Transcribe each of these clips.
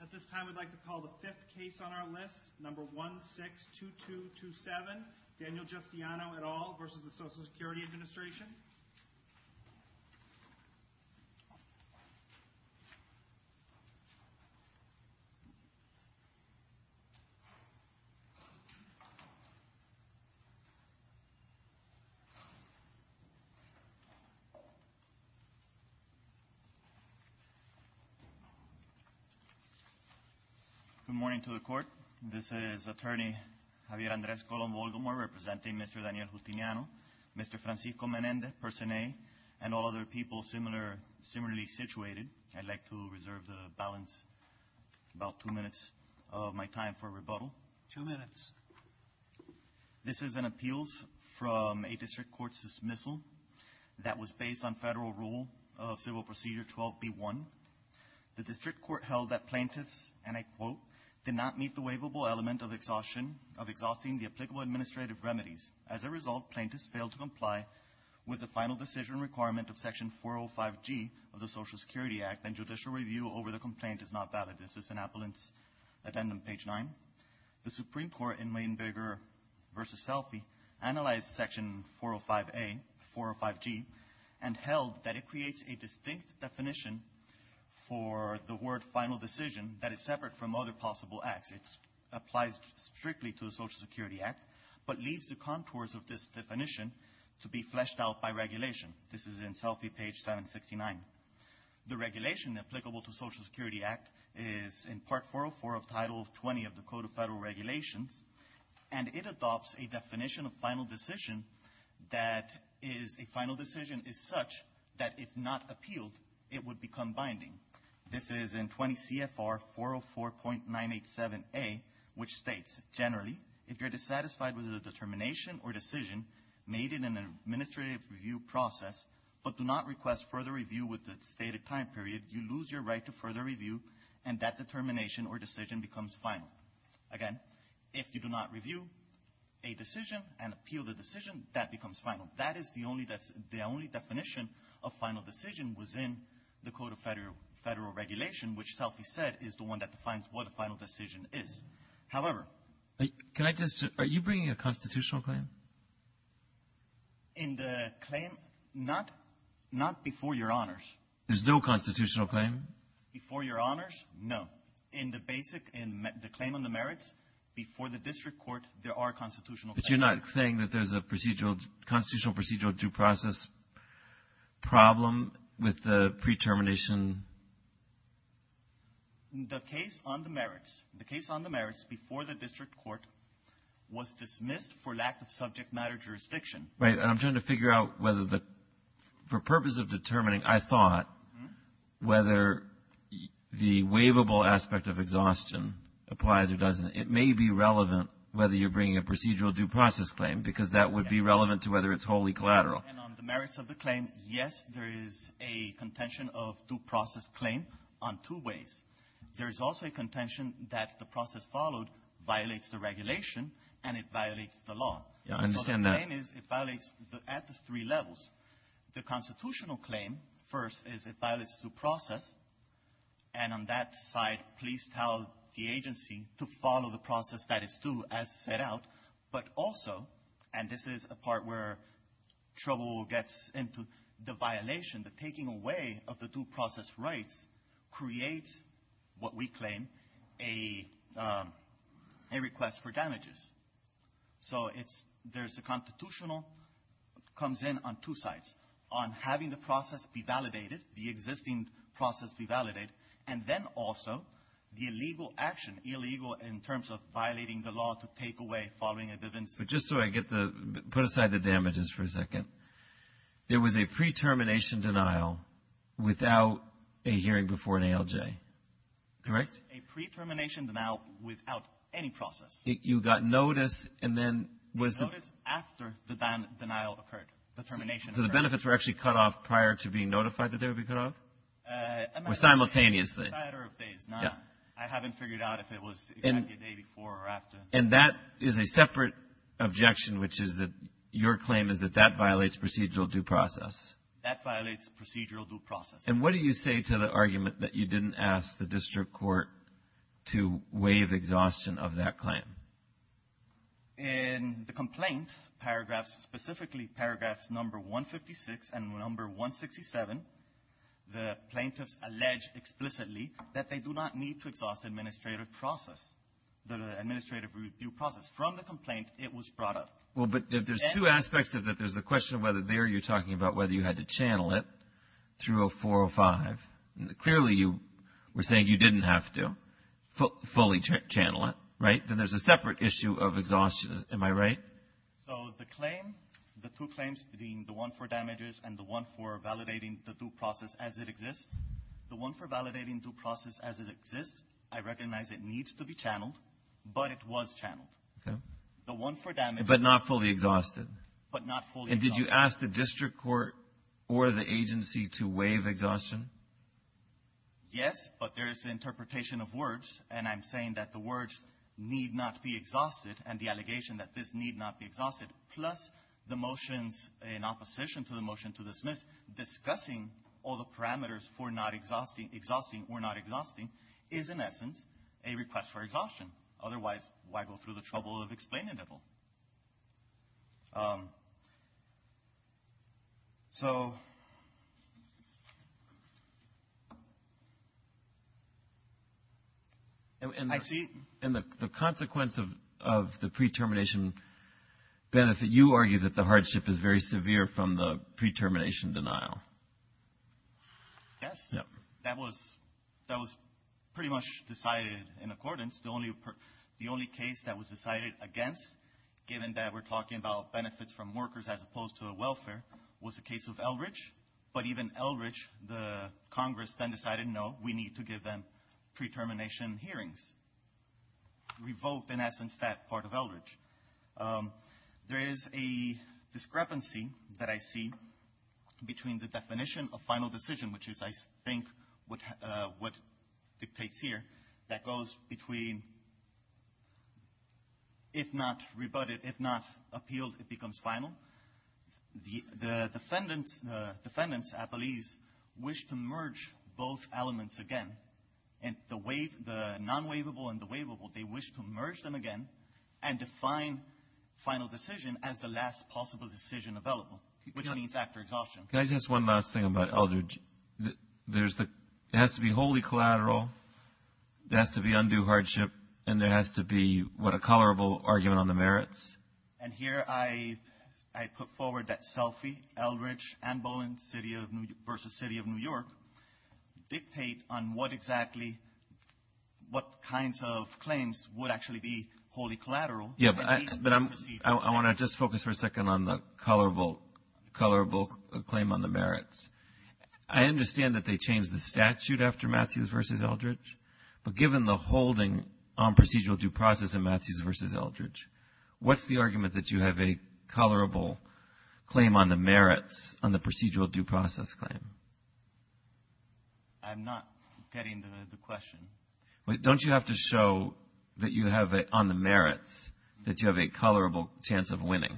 At this time, we'd like to call the fifth case on our list, number 162227, Daniel Justiano et al. v. Social Security Administration Good morning to the court. This is Attorney Javier Andres Colon-Volgamor, representing Mr. Daniel Justiano, Mr. Francisco Menendez, Person A, and all other people similarly situated. I'd like to reserve the balance, about two minutes of my time for rebuttal. Two minutes. This is an appeals from a district court dismissal that was based on federal rule of Civil Procedure 12B1. The district court held that plaintiffs, and I quote, did not meet the waivable element of exhausting the applicable administrative remedies. As a result, plaintiffs failed to comply with the final decision requirement of section 405G of the Social Security Act, and judicial review over the complaint is not valid. This is an appellant's addendum, page nine. The Supreme Court in Weinberger v. Selfie analyzed section 405A, 405G, and held that it creates a distinct definition for the word final decision that is separate from other possible acts. It applies strictly to the Social Security Act, but leaves the contours of this definition to be fleshed out by regulation. This is in Selfie, page 769. The regulation applicable to the Social Security Act is in part 404 of Title 20 of the Code of Federal Regulations, and it adopts a definition of final decision that is a final decision is such that if not appealed, it would become binding. This is in 20 CFR 404.987A, which states, generally, if you're dissatisfied with a determination or decision made in an administrative review process, but do not request further review with the stated time period, you lose your right to further review, and that determination or decision becomes final. Again, if you do not review a decision and appeal the decision, that becomes final. That is the only definition of final decision within the Code of Federal Regulation, which Selfie said is the one that defines what a final decision is. However — Can I just — are you bringing a constitutional claim? In the claim, not before your honors. There's no constitutional claim? Before your honors, no. In the basic — in the claim on the merits, before the district court, there are constitutional claims. But you're not saying that there's a procedural — constitutional procedural due process problem with the pre-termination — The case on the merits — the case on the merits before the district court was dismissed for lack of subject matter jurisdiction. Right. And I'm trying to figure out whether the — for purpose of determining, I thought, whether the waivable aspect of exhaustion applies or doesn't. It may be relevant whether you're bringing a procedural due process claim, because that would be relevant to whether it's wholly collateral. Yes. And on the merits of the claim, yes, there is a contention of due process claim on two ways. There is also a contention that the process followed violates the regulation, and it violates the law. Yeah. I understand that. So the claim is, it violates at the three levels. The constitutional claim, first, is it violates due process. And on that side, please tell the agency to follow the process status, too, as set out. But also — and this is a part where trouble gets into the violation — the taking away of the due process rights creates what we claim a request for damages. So it's — there's a constitutional — comes in on two sides, on having the process be validated, the existing process be validated, and then also the illegal action, illegal in terms of violating the law to take away following a given situation. But just so I get the — put aside the damages for a second. There was a pre-termination denial without a hearing before an ALJ. Correct? A pre-termination denial without any process. You got notice, and then was — It was notice after the denial occurred, the termination occurred. So the benefits were actually cut off prior to being notified that they would be cut off? Or simultaneously? Simultaneously. A matter of days, not — I haven't figured out if it was exactly the day before or after. And that is a separate objection, which is that your claim is that that violates procedural due process. That violates procedural due process. And what do you say to the argument that you didn't ask the district court to waive exhaustion of that claim? In the complaint, paragraphs — specifically, paragraphs number 156 and number 167, the plaintiffs allege explicitly that they do not need to exhaust administrative process, the administrative due process. From the complaint, it was brought up. Well, but there's two aspects of that. There's the question of whether there you're talking about whether you had to channel it through a 405. Clearly you were saying you didn't have to fully channel it. Right? Then there's a separate issue of exhaustion. Am I right? So the claim — the two claims being the one for damages and the one for validating the due process as it exists, the one for validating due process as it exists, I recognize it needs to be channeled, but it was channeled. Okay. The one for damages — But not fully exhausted. But not fully exhausted. And did you ask the district court or the agency to waive exhaustion? Yes, but there is an interpretation of words, and I'm saying that the words need not be exhausted and the allegation that this need not be exhausted, plus the motions in opposition to the motion to dismiss discussing all the parameters for not exhausting or not exhausting is, in essence, a request for exhaustion. Otherwise, why go through the trouble of explaining it all? So I see — So you argue that the hardship is very severe from the pre-termination denial. Yes. That was pretty much decided in accordance. The only case that was decided against, given that we're talking about benefits from workers as opposed to welfare, was the case of Eldridge. But even Eldridge, the Congress then decided, no, we need to give them pre-termination hearings. Revoked, in essence, that part of Eldridge. There is a discrepancy that I see between the definition of final decision, which is, I think, what dictates here, that goes between if not rebutted, if not appealed, it becomes final. The defendants, appellees, wish to merge both elements again. And the non-waivable and the waivable, they wish to merge them again and define final decision as the last possible decision available, which means after exhaustion. Can I just ask one last thing about Eldridge? There's the — it has to be wholly collateral, it has to be undue hardship, and there has to be what a colorable argument on the merits. And here I put forward that Selfie, Eldridge, and Bowen versus City of New York dictate on what exactly — what kinds of claims would actually be wholly collateral. Yeah, but I — At least the procedural — I want to just focus for a second on the colorable claim on the merits. I understand that they changed the statute after Mathews versus Eldridge, but given the holding on procedural due process in Mathews versus Eldridge, what's the argument that you have a colorable claim on the merits on the procedural due process claim? I'm not getting the question. Wait, don't you have to show that you have on the merits that you have a colorable chance of winning?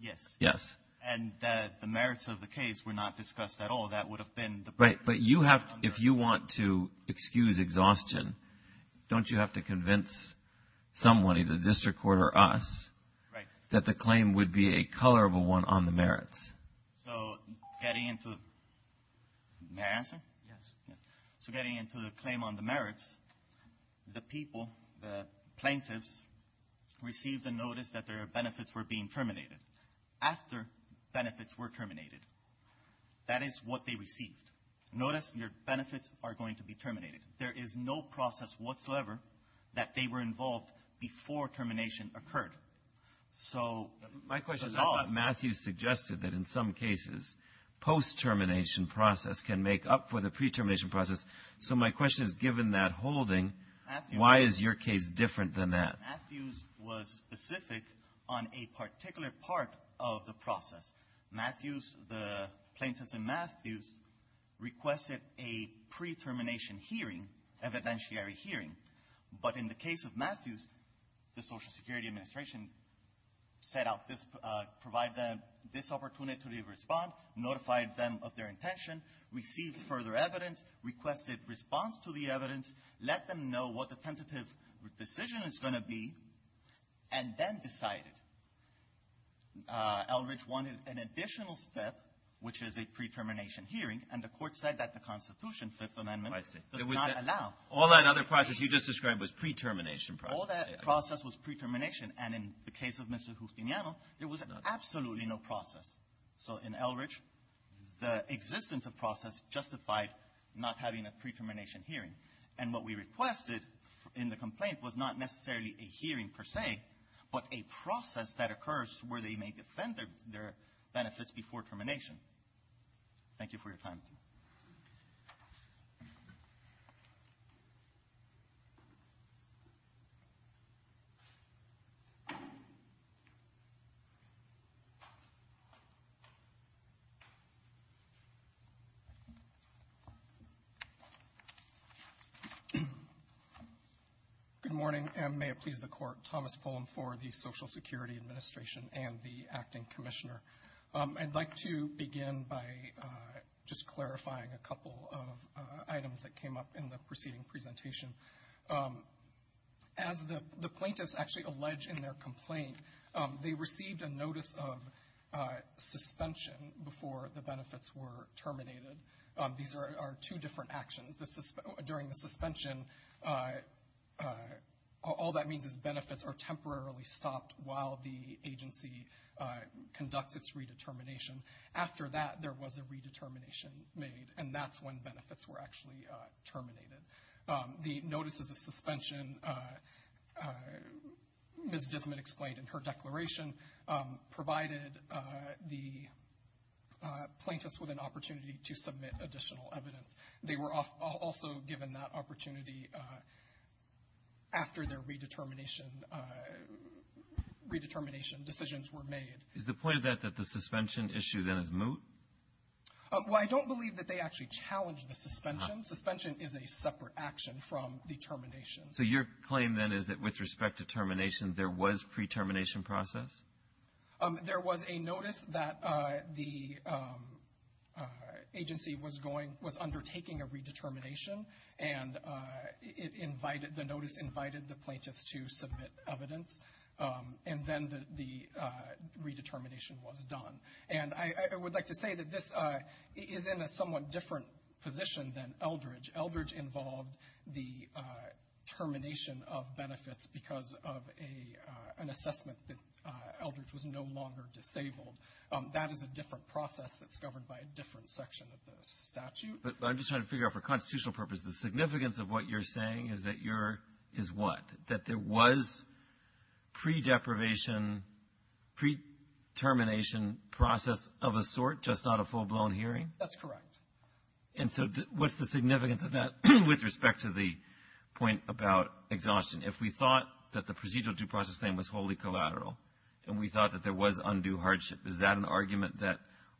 Yes. Yes. And the merits of the case were not discussed at all. That would have been the — Right. But you have — if you want to excuse exhaustion, don't you have to convince someone, either the district court or us, that the claim would be a colorable one on the merits? So getting into the — may I answer? Yes. Yes. So getting into the claim on the merits, the people, the plaintiffs, received a notice that their benefits were being terminated after benefits were terminated. That is what they received. Notice your benefits are going to be terminated. There is no process whatsoever that they were involved before termination occurred. So at all — In some cases, post-termination process can make up for the pre-termination process. So my question is, given that holding, why is your case different than that? Matthews was specific on a particular part of the process. Matthews, the plaintiffs in Matthews, requested a pre-termination hearing, evidentiary hearing. But in the case of Matthews, the Social Security Administration set out this — provide them this opportunity to respond, notified them of their intention, received further evidence, requested response to the evidence, let them know what the tentative decision is going to be, and then decided. Eldridge wanted an additional step, which is a pre-termination hearing, and the Court said that the Constitution, Fifth Amendment — I see. — does not allow. All that other process you just described was pre-termination process. All that process was pre-termination. And in the case of Mr. Justiniano, there was absolutely no process. So in Eldridge, the existence of process justified not having a pre-termination hearing. And what we requested in the complaint was not necessarily a hearing per se, but a process that occurs where they may defend their benefits before termination. Thank you for your time. Good morning, and may it please the Court. Thomas Pullen for the Social Security Administration and the Acting Commissioner. I'd like to begin by just clarifying a couple of items that came up in the preceding presentation. As the plaintiffs actually allege in their complaint, they received a notice of suspension before the benefits were terminated. These are two different actions. During the suspension, all that means is benefits are temporarily stopped while the agency conducts its redetermination. After that, there was a redetermination made, and that's when benefits were actually terminated. The notices of suspension, Ms. Dismitt explained in her declaration, provided the plaintiffs with an opportunity to submit additional evidence. They were also given that opportunity after their redetermination decisions were made. Is the point of that that the suspension issue, then, is moot? Well, I don't believe that they actually challenged the suspension. Suspension is a separate action from the termination. So your claim, then, is that with respect to termination, there was pre-termination process? There was a notice that the agency was going, was undertaking a redetermination, and it invited, the notice invited the plaintiffs to submit evidence, and then the redetermination was done. And I would like to say that this is in a somewhat different position than Eldridge. Eldridge involved the termination of benefits because of an assessment that Eldridge was no longer disabled. That is a different process that's governed by a different section of the statute. But I'm just trying to figure out for constitutional purposes, the significance of what you're saying is that you're, is what? That there was pre-deprivation, pre-termination process of a sort, just not a full-blown hearing? That's correct. And so what's the significance of that with respect to the point about exhaustion? If we thought that the procedural due process thing was wholly collateral, and we thought that there was undue hardship, is that an argument that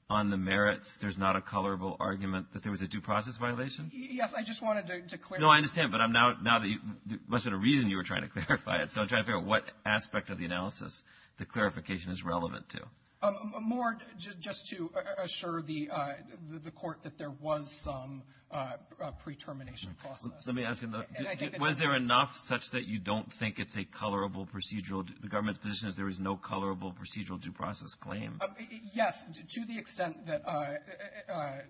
on the merits, there's not a colorable argument that there was a due process violation? Yes. I just wanted to clarify. No, I understand. But I'm now, now that you, must have been a reason you were trying to clarify it. So I'm trying to figure out what aspect of the analysis the clarification is relevant to. More just to assure the Court that there was some pre-termination process. Let me ask you, was there enough such that you don't think it's a colorable procedural, the government's position is there is no colorable procedural due process claim? Yes. To the extent that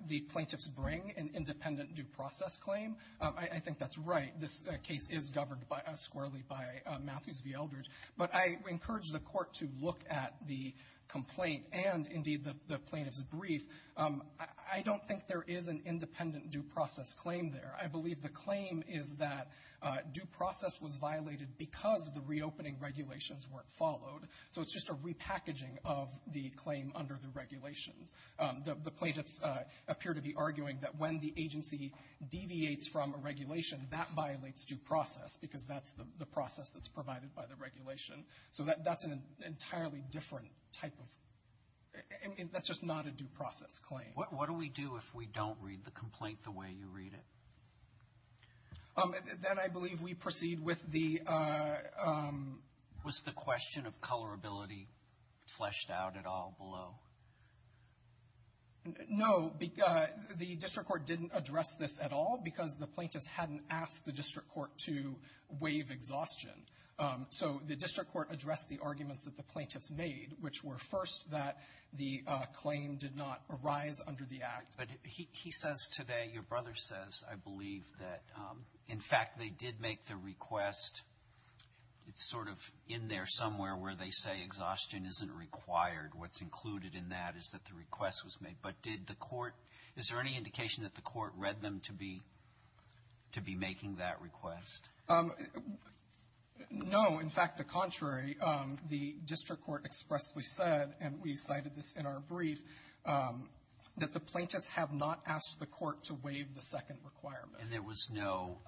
the plaintiffs bring an independent due process claim, I think that's right. This case is governed squarely by Matthews v. Eldridge. But I encourage the Court to look at the complaint and, indeed, the plaintiff's brief. I don't think there is an independent due process claim there. I believe the claim is that due process was violated because the reopening regulations weren't followed. So it's just a repackaging of the claim under the regulations. The plaintiffs appear to be arguing that when the agency deviates from a regulation, that violates due process because that's the process that's provided by the regulation. So that's an entirely different type of, that's just not a due process claim. What do we do if we don't read the complaint the way you read it? Then I believe we proceed with the was the question of colorability. Is colorability fleshed out at all below? No. The district court didn't address this at all because the plaintiffs hadn't asked the district court to waive exhaustion. So the district court addressed the arguments that the plaintiffs made, which were first that the claim did not arise under the Act. But he says today, your brother says, I believe, that, in fact, they did make the request. It's sort of in there somewhere where they say exhaustion isn't required. What's included in that is that the request was made. But did the court, is there any indication that the court read them to be, to be making that request? No. In fact, the contrary. The district court expressly said, and we cited this in our brief, that the plaintiffs have not asked the court to waive the second requirement. And there was no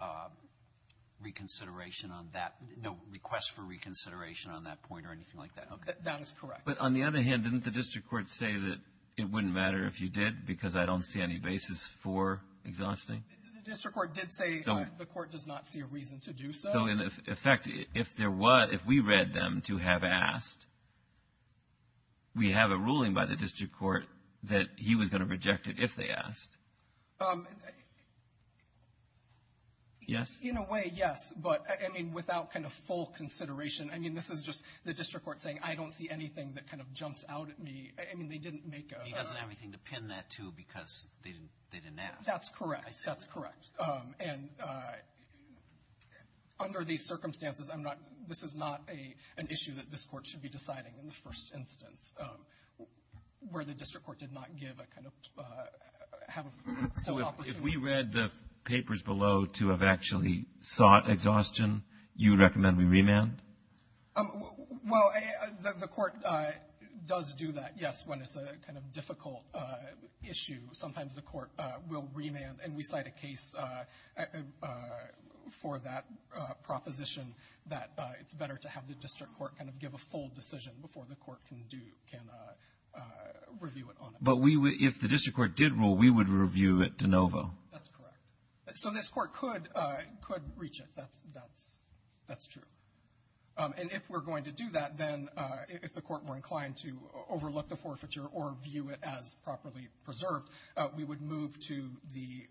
reconsideration on that, no request for reconsideration on that point or anything like that. Okay. That is correct. But on the other hand, didn't the district court say that it wouldn't matter if you did because I don't see any basis for exhausting? The district court did say the court does not see a reason to do so. So, in effect, if there was, if we read them to have asked, we have a ruling by the district court that he was going to reject it if they asked. Yes? In a way, yes. But, I mean, without kind of full consideration, I mean, this is just the district court saying I don't see anything that kind of jumps out at me. I mean, they didn't make a ask. He doesn't have anything to pin that to because they didn't ask. That's correct. That's correct. And under these circumstances, I'm not, this is not an issue that this court should be deciding in the first instance where the district court did not give a kind of, have a full opportunity. So, if we read the papers below to have actually sought exhaustion, you would recommend we remand? Well, the court does do that, yes, when it's a kind of difficult issue. Sometimes the court will remand and we cite a case for that proposition that it's better to have the district court kind of give a full decision before the court can do, can review it on it. But we would, if the district court did rule, we would review it de novo? That's correct. So, this court could, could reach it. That's, that's, that's true. And if we're going to do that, then if the court were inclined to overlook the forfeiture or view it as properly preserved, we would move to the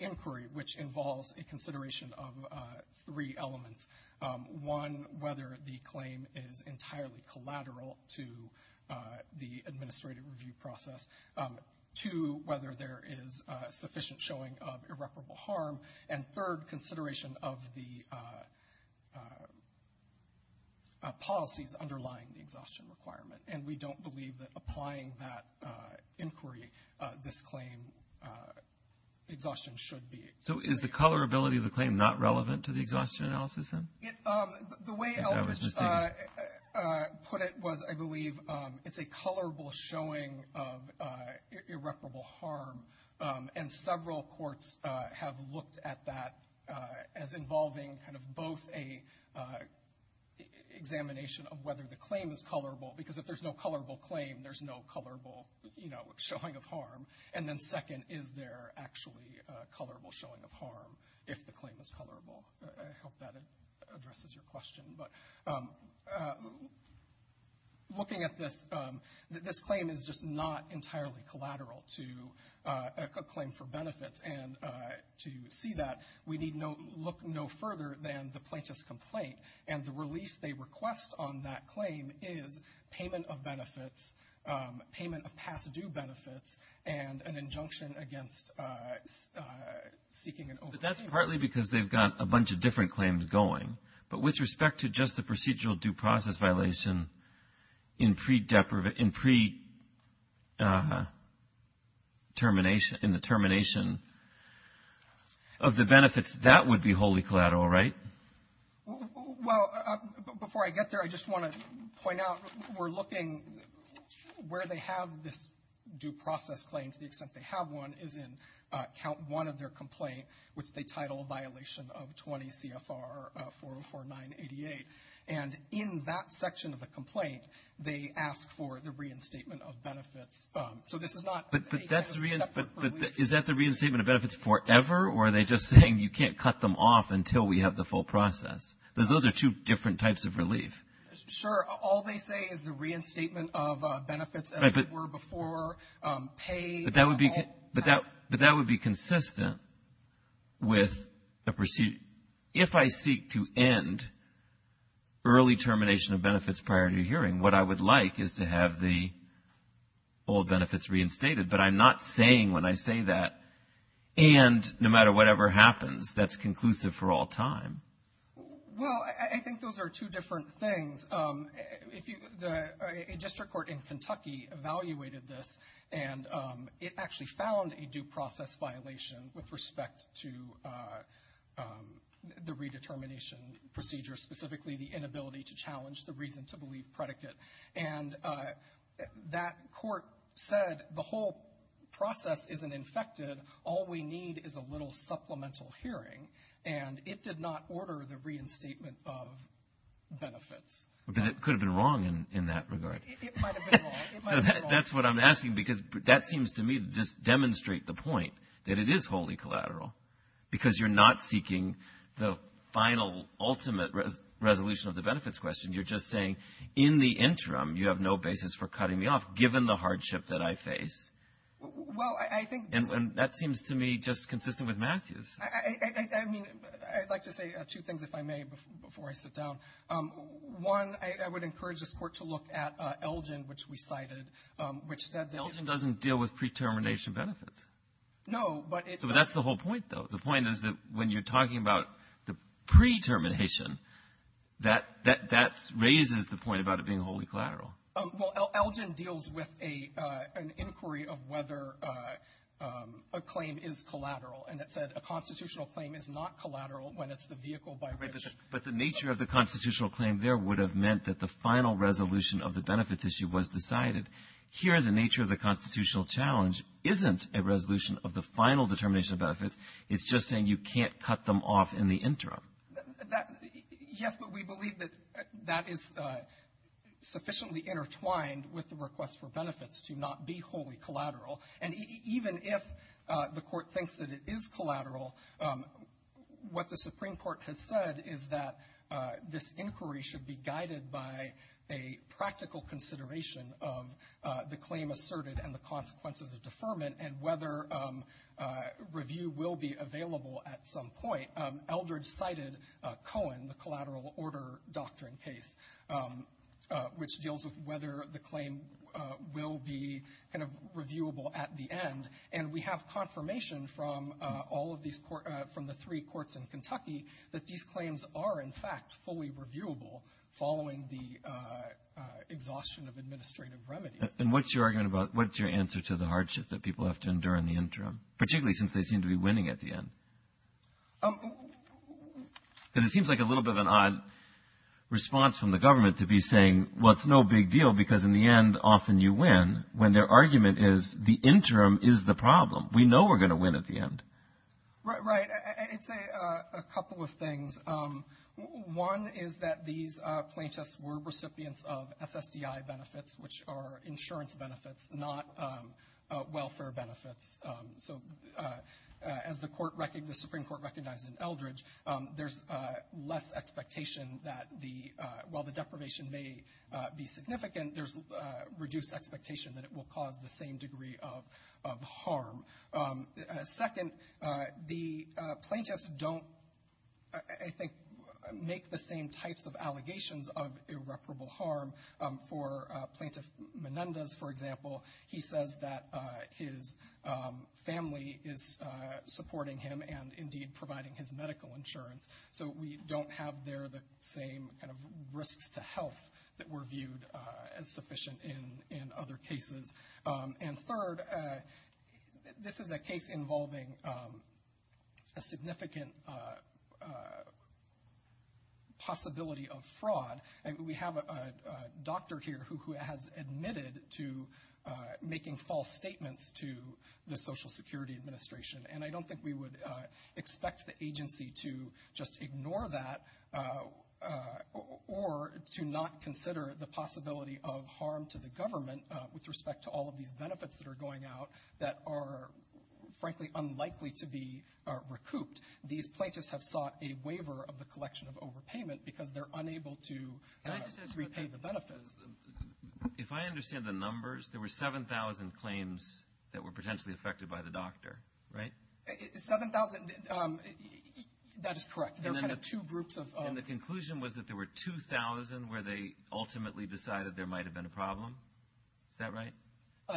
inquiry, which involves a consideration of three elements. One, whether the claim is entirely collateral to the administrative review process. Two, whether there is sufficient showing of irreparable harm. And third, consideration of the policies underlying the exhaustion requirement. And we don't believe that applying that inquiry, this claim, exhaustion should be. So, is the colorability of the claim not relevant to the exhaustion analysis, then? The way Eldridge put it was, I believe, it's a colorable showing of irreparable harm. And several courts have looked at that as involving kind of both a examination of whether the claim is colorable. Because if there's no colorable claim, there's no colorable, you know, showing of harm. And then second, is there actually a colorable showing of harm, if the claim is colorable? I hope that addresses your question, but looking at this, this claim is just not entirely collateral to a claim for benefits. And to see that, we need no, look no further than the plaintiff's complaint. And the relief they request on that claim is payment of benefits, payment of past due benefits, and an injunction against seeking an overpayment. But that's partly because they've got a bunch of different claims going. But with respect to just the procedural due process violation in pre-deprivate, in pre-termination, in the termination of the benefits, that would be wholly collateral, right? Well, before I get there, I just want to point out, we're looking where they have this due process claim, to the extent they have one, is in count one of their complaint, which they title a violation of 20 CFR 404988. And in that section of the complaint, they ask for the reinstatement of benefits. So this is not a separate relief. Is that the reinstatement of benefits forever, or are they just saying you can't cut them off until we have the full process? Because those are two different types of relief. Sure. All they say is the reinstatement of benefits as it were before, pay. But that would be consistent with the procedure. If I seek to end early termination of benefits prior to your hearing, what I would like is to have the old benefits reinstated. But I'm not saying when I say that, and no matter whatever happens, that's conclusive for all time. Well, I think those are two different things. A district court in Kentucky evaluated this, and it actually found a due process violation with respect to the redetermination procedure, specifically the inability to challenge the reason to believe predicate. And that court said the whole process isn't infected. All we need is a little supplemental hearing. And it did not order the reinstatement of benefits. But it could have been wrong in that regard. It might have been wrong. It might have been wrong. So that's what I'm asking, because that seems to me to just demonstrate the point that it is wholly collateral, because you're not seeking the final, ultimate resolution of the benefits question. You're just saying in the interim, you have no basis for cutting me off, given the hardship that I face. Well, I think this... And that seems to me just consistent with Matthew's. I mean, I'd like to say two things, if I may, before I sit down. One, I would encourage this court to look at Elgin, which we cited, which said that... Elgin doesn't deal with pre-termination benefits. No, but it... So that's the whole point, though. The point is that when you're talking about the pre-termination, that raises the point about it being wholly collateral. Well, Elgin deals with an inquiry of whether a claim is collateral. And it said a constitutional claim is not collateral when it's the vehicle by which... But the nature of the constitutional claim there would have meant that the final resolution of the benefits issue was decided. Here, the nature of the constitutional challenge isn't a resolution of the final determination of benefits. That... Yes, but we believe that that is sufficiently intertwined with the request for benefits to not be wholly collateral. And even if the Court thinks that it is collateral, what the Supreme Court has said is that this inquiry should be guided by a practical consideration of the claim asserted and the consequences of deferment, and whether review will be available at some point. Eldridge cited Cohen, the collateral order doctrine case, which deals with whether the claim will be kind of reviewable at the end. And we have confirmation from all of these courts, from the three courts in Kentucky, that these claims are, in fact, fully reviewable following the exhaustion of administrative remedies. And what's your argument about... What's your answer to the hardship that people have to endure in the interim, particularly since they seem to be winning at the end? Because it seems like a little bit of an odd response from the government to be saying, well, it's no big deal, because in the end, often you win, when their argument is the interim is the problem. We know we're going to win at the end. Right. Right. I'd say a couple of things. One is that these plaintiffs were recipients of SSDI benefits, which are insurance benefits, not welfare benefits. So as the Supreme Court recognized in Eldridge, there's less expectation that while the deprivation may be significant, there's reduced expectation that it will cause the same degree of harm. Second, the plaintiffs don't, I think, make the same types of allegations of irreparable harm. For Plaintiff Menendez, for example, he says that his family is supporting him and indeed providing his medical insurance. So we don't have there the same kind of risks to health that were viewed as sufficient in other cases. And third, this is a case involving a significant possibility of fraud. We have a doctor here who has admitted to making false statements to the Social Security Administration, and I don't think we would expect the agency to just ignore that or to not consider the possibility of harm to the government with respect to all of these benefits that are going out that are, frankly, unlikely to be recouped. These plaintiffs have sought a waiver of the collection of overpayment because they're unable to repay the benefits. If I understand the numbers, there were 7,000 claims that were potentially affected by the doctor, right? 7,000, that is correct. There were kind of two groups of... And the conclusion was that there were 2,000 where they ultimately decided there might have been a problem? Is that right?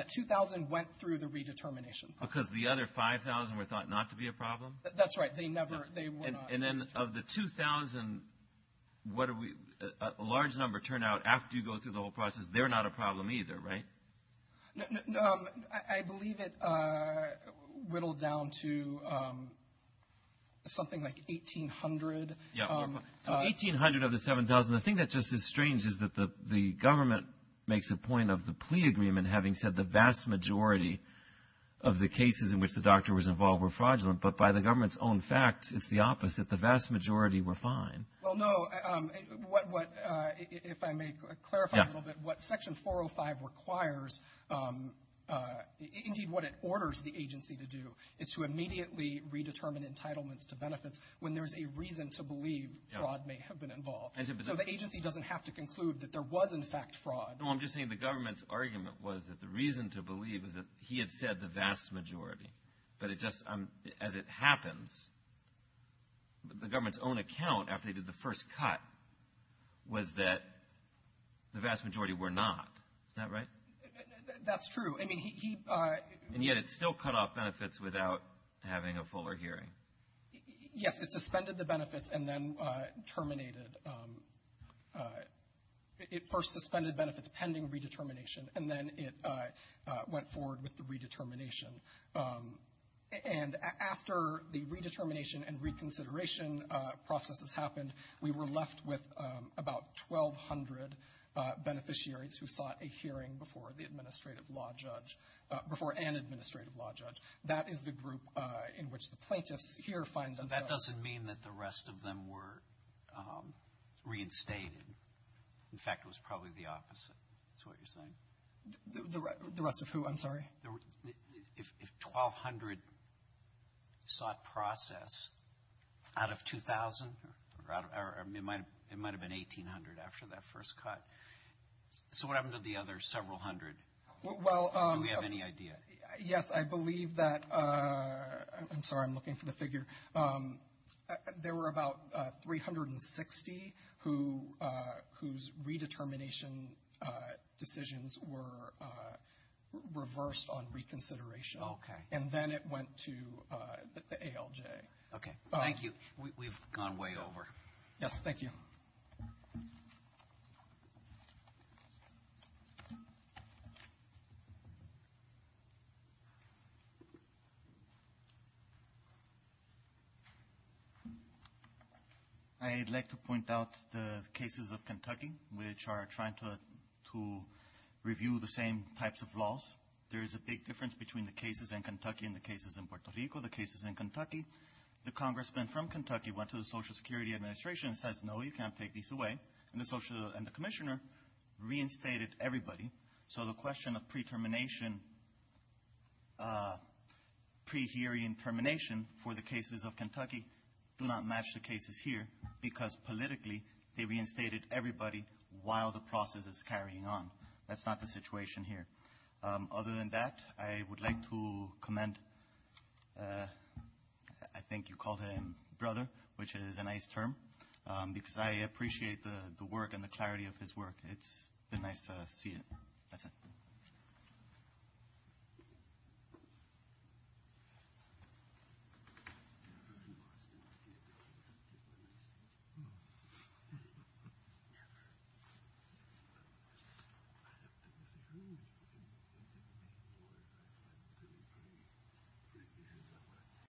2,000 went through the redetermination process. Because the other 5,000 were thought not to be a problem? That's right. They were not. And then of the 2,000, what are we... A large number turned out after you go through the whole process, they're not a problem either, right? No, I believe it whittled down to something like 1,800. Yeah. So 1,800 of the 7,000. The thing that's just as strange is that the government makes a point of the plea agreement having said the vast majority of the cases in which the doctor was involved were fraudulent, but by the government's own facts, it's the opposite. The vast majority were fine. Well, no. What, if I may clarify a little bit, what Section 405 requires, indeed what it orders the agency to do, is to immediately redetermine entitlements to benefits when there's a reason to believe fraud may have been involved. So the agency doesn't have to conclude that there was in fact fraud. No, I'm just saying the government's argument was that the reason to believe is that he had said the vast majority. But it just, as it happens, the government's own account, after they did the first cut, was that the vast majority were not. Is that right? That's true. I mean, he... And yet it still cut off benefits without having a fuller hearing. Yes. It suspended the benefits and then terminated... It first suspended benefits pending redetermination, and then it went forward with the redetermination And after the redetermination and reconsideration processes happened, we were left with about 1,200 beneficiaries who sought a hearing before the administrative law judge, before an administrative law judge. That is the group in which the plaintiffs here find themselves. So that doesn't mean that the rest of them were reinstated. In fact, it was probably the opposite, is what you're saying. The rest of who? I'm sorry? If 1,200 sought process out of 2,000, it might have been 1,800 after that first cut. So what happened to the other several hundred? Do we have any idea? Yes. I believe that... I'm sorry. I'm looking for the figure. There were about 360 whose redetermination decisions were reversed on reconsideration. Okay. And then it went to the ALJ. Okay. Thank you. We've gone way over. Yes. Thank you. I'd like to point out the cases of Kentucky, which are trying to review the same types of laws. There is a big difference between the cases in Kentucky and the cases in Puerto Rico. The cases in Kentucky, the congressman from Kentucky went to the Social Security Administration and says, no, you can't take these away, and the commissioner reinstated everybody. So the question of pre-termination, pre-hearing termination for the cases of Kentucky do not match the cases here, because politically, they reinstated everybody while the process is carrying on. That's not the situation here. Other than that, I would like to commend, I think you called him brother, which is a nice term, because I appreciate the work and the clarity of his work. It's been nice to see it. That's it.